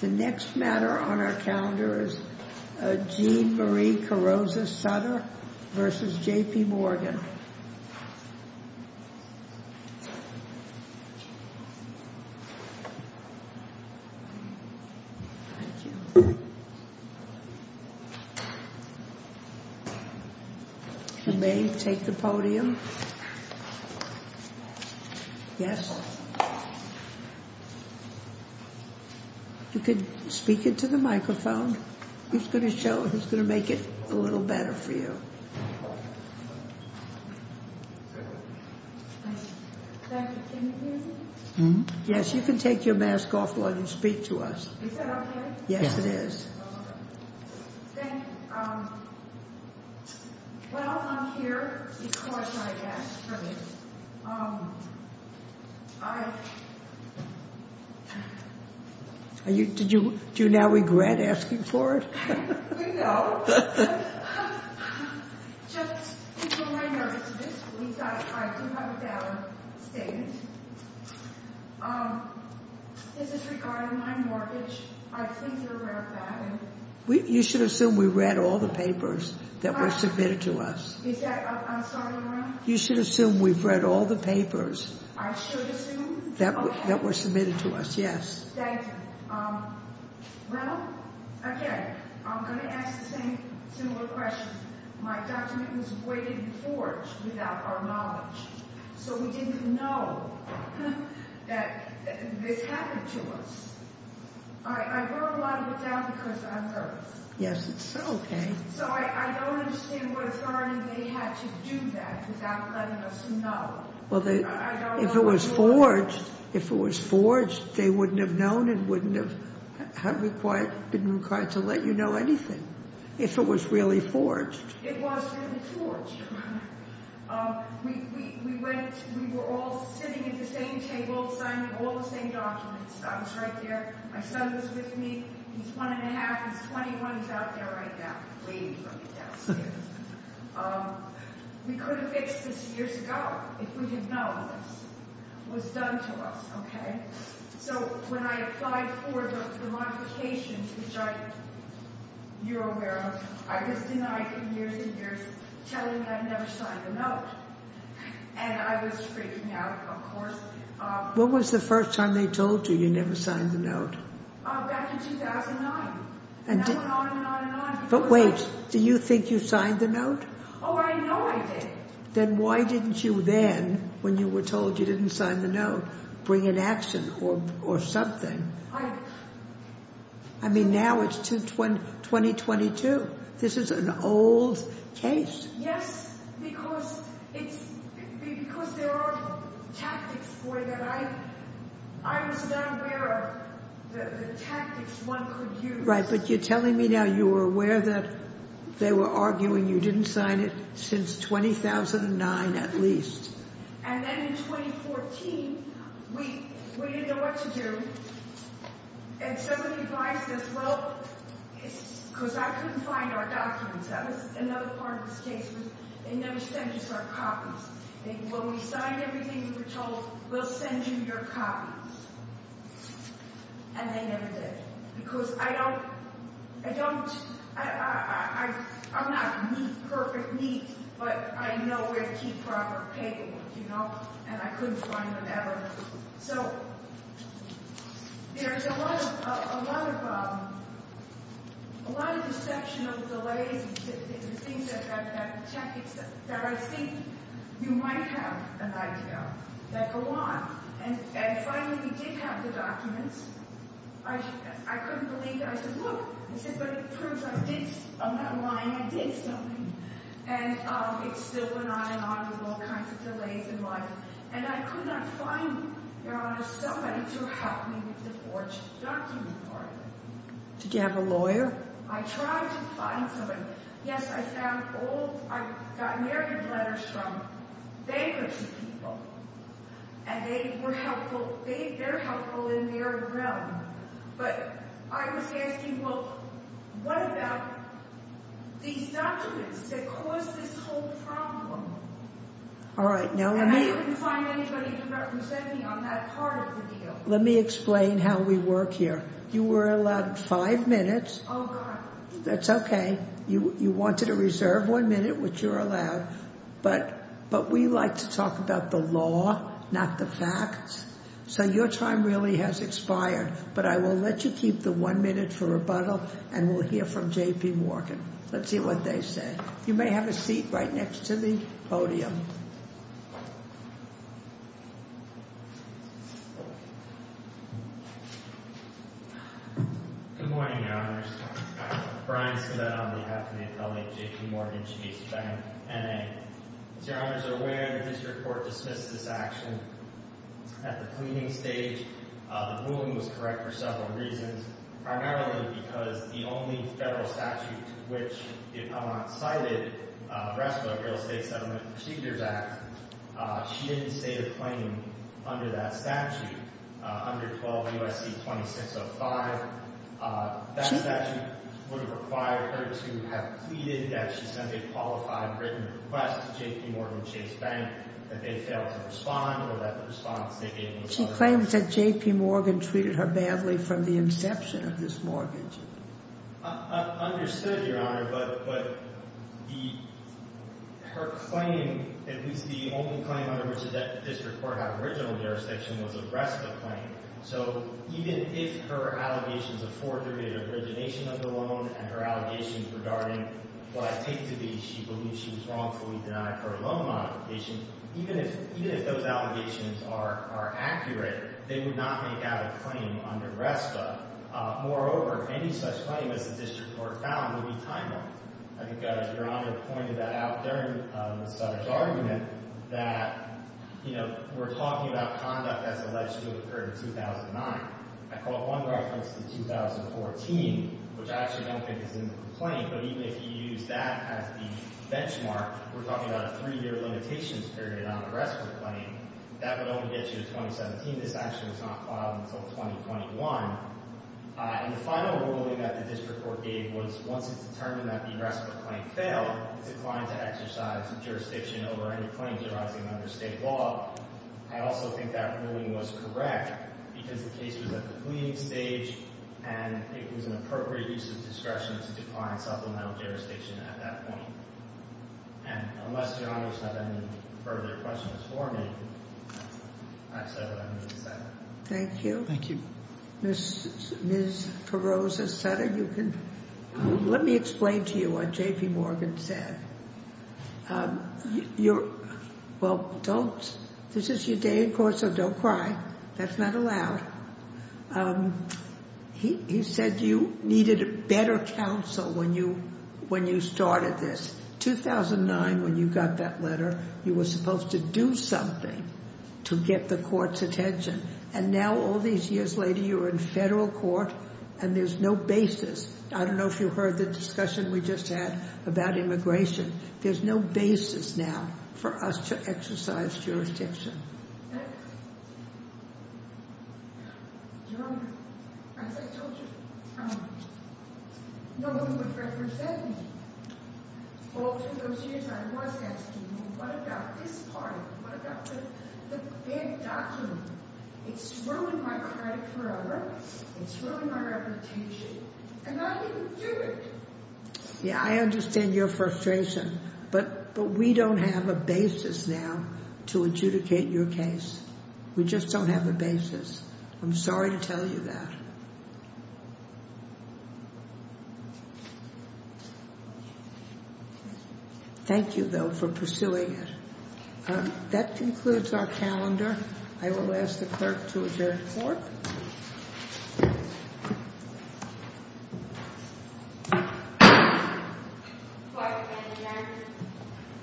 The next matter on our calendar is Jean Marie Carozza-Sutter vs. J.P. Morgan. You may take the podium. Yes. You could speak into the microphone. He's going to show, he's going to make it a little better for you. Yes, you can take your mask off while you speak to us. Yes, it is. Thank you. Well, I'm here because I asked for this. Do you now regret asking for it? No. Just because I noticed this week that I do have a valid statement. This is regarding my mortgage. I think you're aware of that. You should assume we've read all the papers that were submitted to us. You should assume we've read all the papers that were submitted to us. Yes. Thank you. Well, again, I'm going to ask the same similar question. My document was weighted and forged without our knowledge. So we didn't know that this happened to us. I wrote a lot of it down because I'm nervous. Yes, it's okay. So I don't understand why they had to do that without letting us know. Well, if it was forged, they wouldn't have known and wouldn't have required to let you know anything. If it was really forged. It was really forged. We went, we were all sitting at the same table, signing all the same documents. I was right there. My son was with me. He's one and a half. He's 21. He's out there right now waiting for me downstairs. We could have fixed this years ago if we had known this was done to us. Okay. So when I applied for the modifications, which you're aware of, I was denied for years and years telling them I'd never signed a note. And I was freaking out, of course. When was the first time they told you you never signed the note? Back in 2009. And that went on and on and on. But wait. Do you think you signed the note? Oh, I know I did. Then why didn't you then, when you were told you didn't sign the note, bring an action or something? I mean, now it's 2022. This is an old case. Yes, because there are tactics for that. I was not aware of the tactics one could use. Right. But you're telling me now you were aware that they were arguing you didn't sign it since 2009 at least. And then in 2014, we didn't know what to do. And somebody advised us, well, because I couldn't find our documents. That was another part of this case. They never sent us our copies. When we signed everything, we were told, we'll send you your copies. And they never did. Because I don't, I don't, I'm not neat, perfect neat, but I know where to keep proper paperwork, you know. And I couldn't find them ever. So, there's a lot of, a lot of, a lot of deception of delays and things that, that tactics that I think you might have an idea of that go on. And finally we did have the documents. I couldn't believe it. I said, look, but it proves I did, I'm not lying, I did something. And it still went on and on with all kinds of delays in life. And I could not find, Your Honor, somebody to help me with the forged document part. Did you have a lawyer? I tried to find somebody. Yes, I found old, I got married letters from bankruptcy people. And they were helpful, they, they're helpful in their realm. But I was asking, well, what about these documents that caused this whole problem? All right, now let me... And I couldn't find anybody to represent me on that part of the deal. Let me explain how we work here. You were allowed five minutes. Oh, God. That's okay. You, you wanted to reserve one minute, which you're allowed. But, but we like to talk about the law, not the facts. So, your time really has expired. But I will let you keep the one minute for rebuttal and we'll hear from J.P. Morgan. Let's see what they say. You may have a seat right next to the podium. Good morning, Your Honors. Brian Smith on behalf of the Affiliate J.P. Morgan Chase Bank, N.A. As Your Honors are aware, the district court dismissed this action at the cleaning stage. The ruling was correct for several reasons, primarily because the only federal statute which the appellant cited, the rest of the Real Estate Settlement Procedures Act, she didn't state a claim under that statute, under 12 U.S.C. 2605. That statute would have required her to have pleaded that she sent a qualified written request to J.P. Morgan Chase Bank that they failed to respond or that the response they gave was... Claims that J.P. Morgan treated her badly from the inception of this mortgage. I understood, Your Honor, but her claim, at least the only claim under which the district court had original jurisdiction, was the rest of the claim. So, even if her allegations afford her the origination of the loan and her allegations regarding what I take to be she believes she was wrongfully denied her loan modification, even if those allegations are accurate, they would not make out a claim under RESPA. Moreover, any such claim as the district court found would be timeless. I think Your Honor pointed that out during Ms. Sutter's argument that, you know, we're talking about conduct that's alleged to have occurred in 2009. I caught one reference to 2014, which I actually don't think is in the complaint, but even if you use that as the benchmark, we're talking about a three-year limitations period on the RESPA claim, that would only get you to 2017. This actually was not filed until 2021. And the final ruling that the district court gave was once it's determined that the RESPA claim failed, it's declined to exercise jurisdiction over any claims arising under state law. I also think that ruling was correct because the case was at the cleaning stage and it was an appropriate use of discretion to decline supplemental jurisdiction at that point. And unless Your Honor has any further questions for me, I've said what I need to say. Thank you. Thank you. Ms. Perroza-Sutter, you can—let me explain to you what J.P. Morgan said. You're—well, don't—this is your day in court, so don't cry. That's not allowed. He said you needed better counsel when you started this. 2009, when you got that letter, you were supposed to do something to get the court's attention. And now, all these years later, you're in federal court and there's no basis. I don't know if you heard the discussion we just had about immigration. There's no basis now for us to exercise jurisdiction. Your Honor, as I told you, no one would represent me. All through those years, I was asking, well, what about this part? What about the bad document? It's ruined my credit forever. It's ruined my reputation. And I didn't do it. Yeah, I understand your frustration. But we don't have a basis now to adjudicate your case. We just don't have a basis. I'm sorry to tell you that. Thank you, though, for pursuing it. That concludes our calendar. I will ask the clerk to adjourn court. Court is adjourned.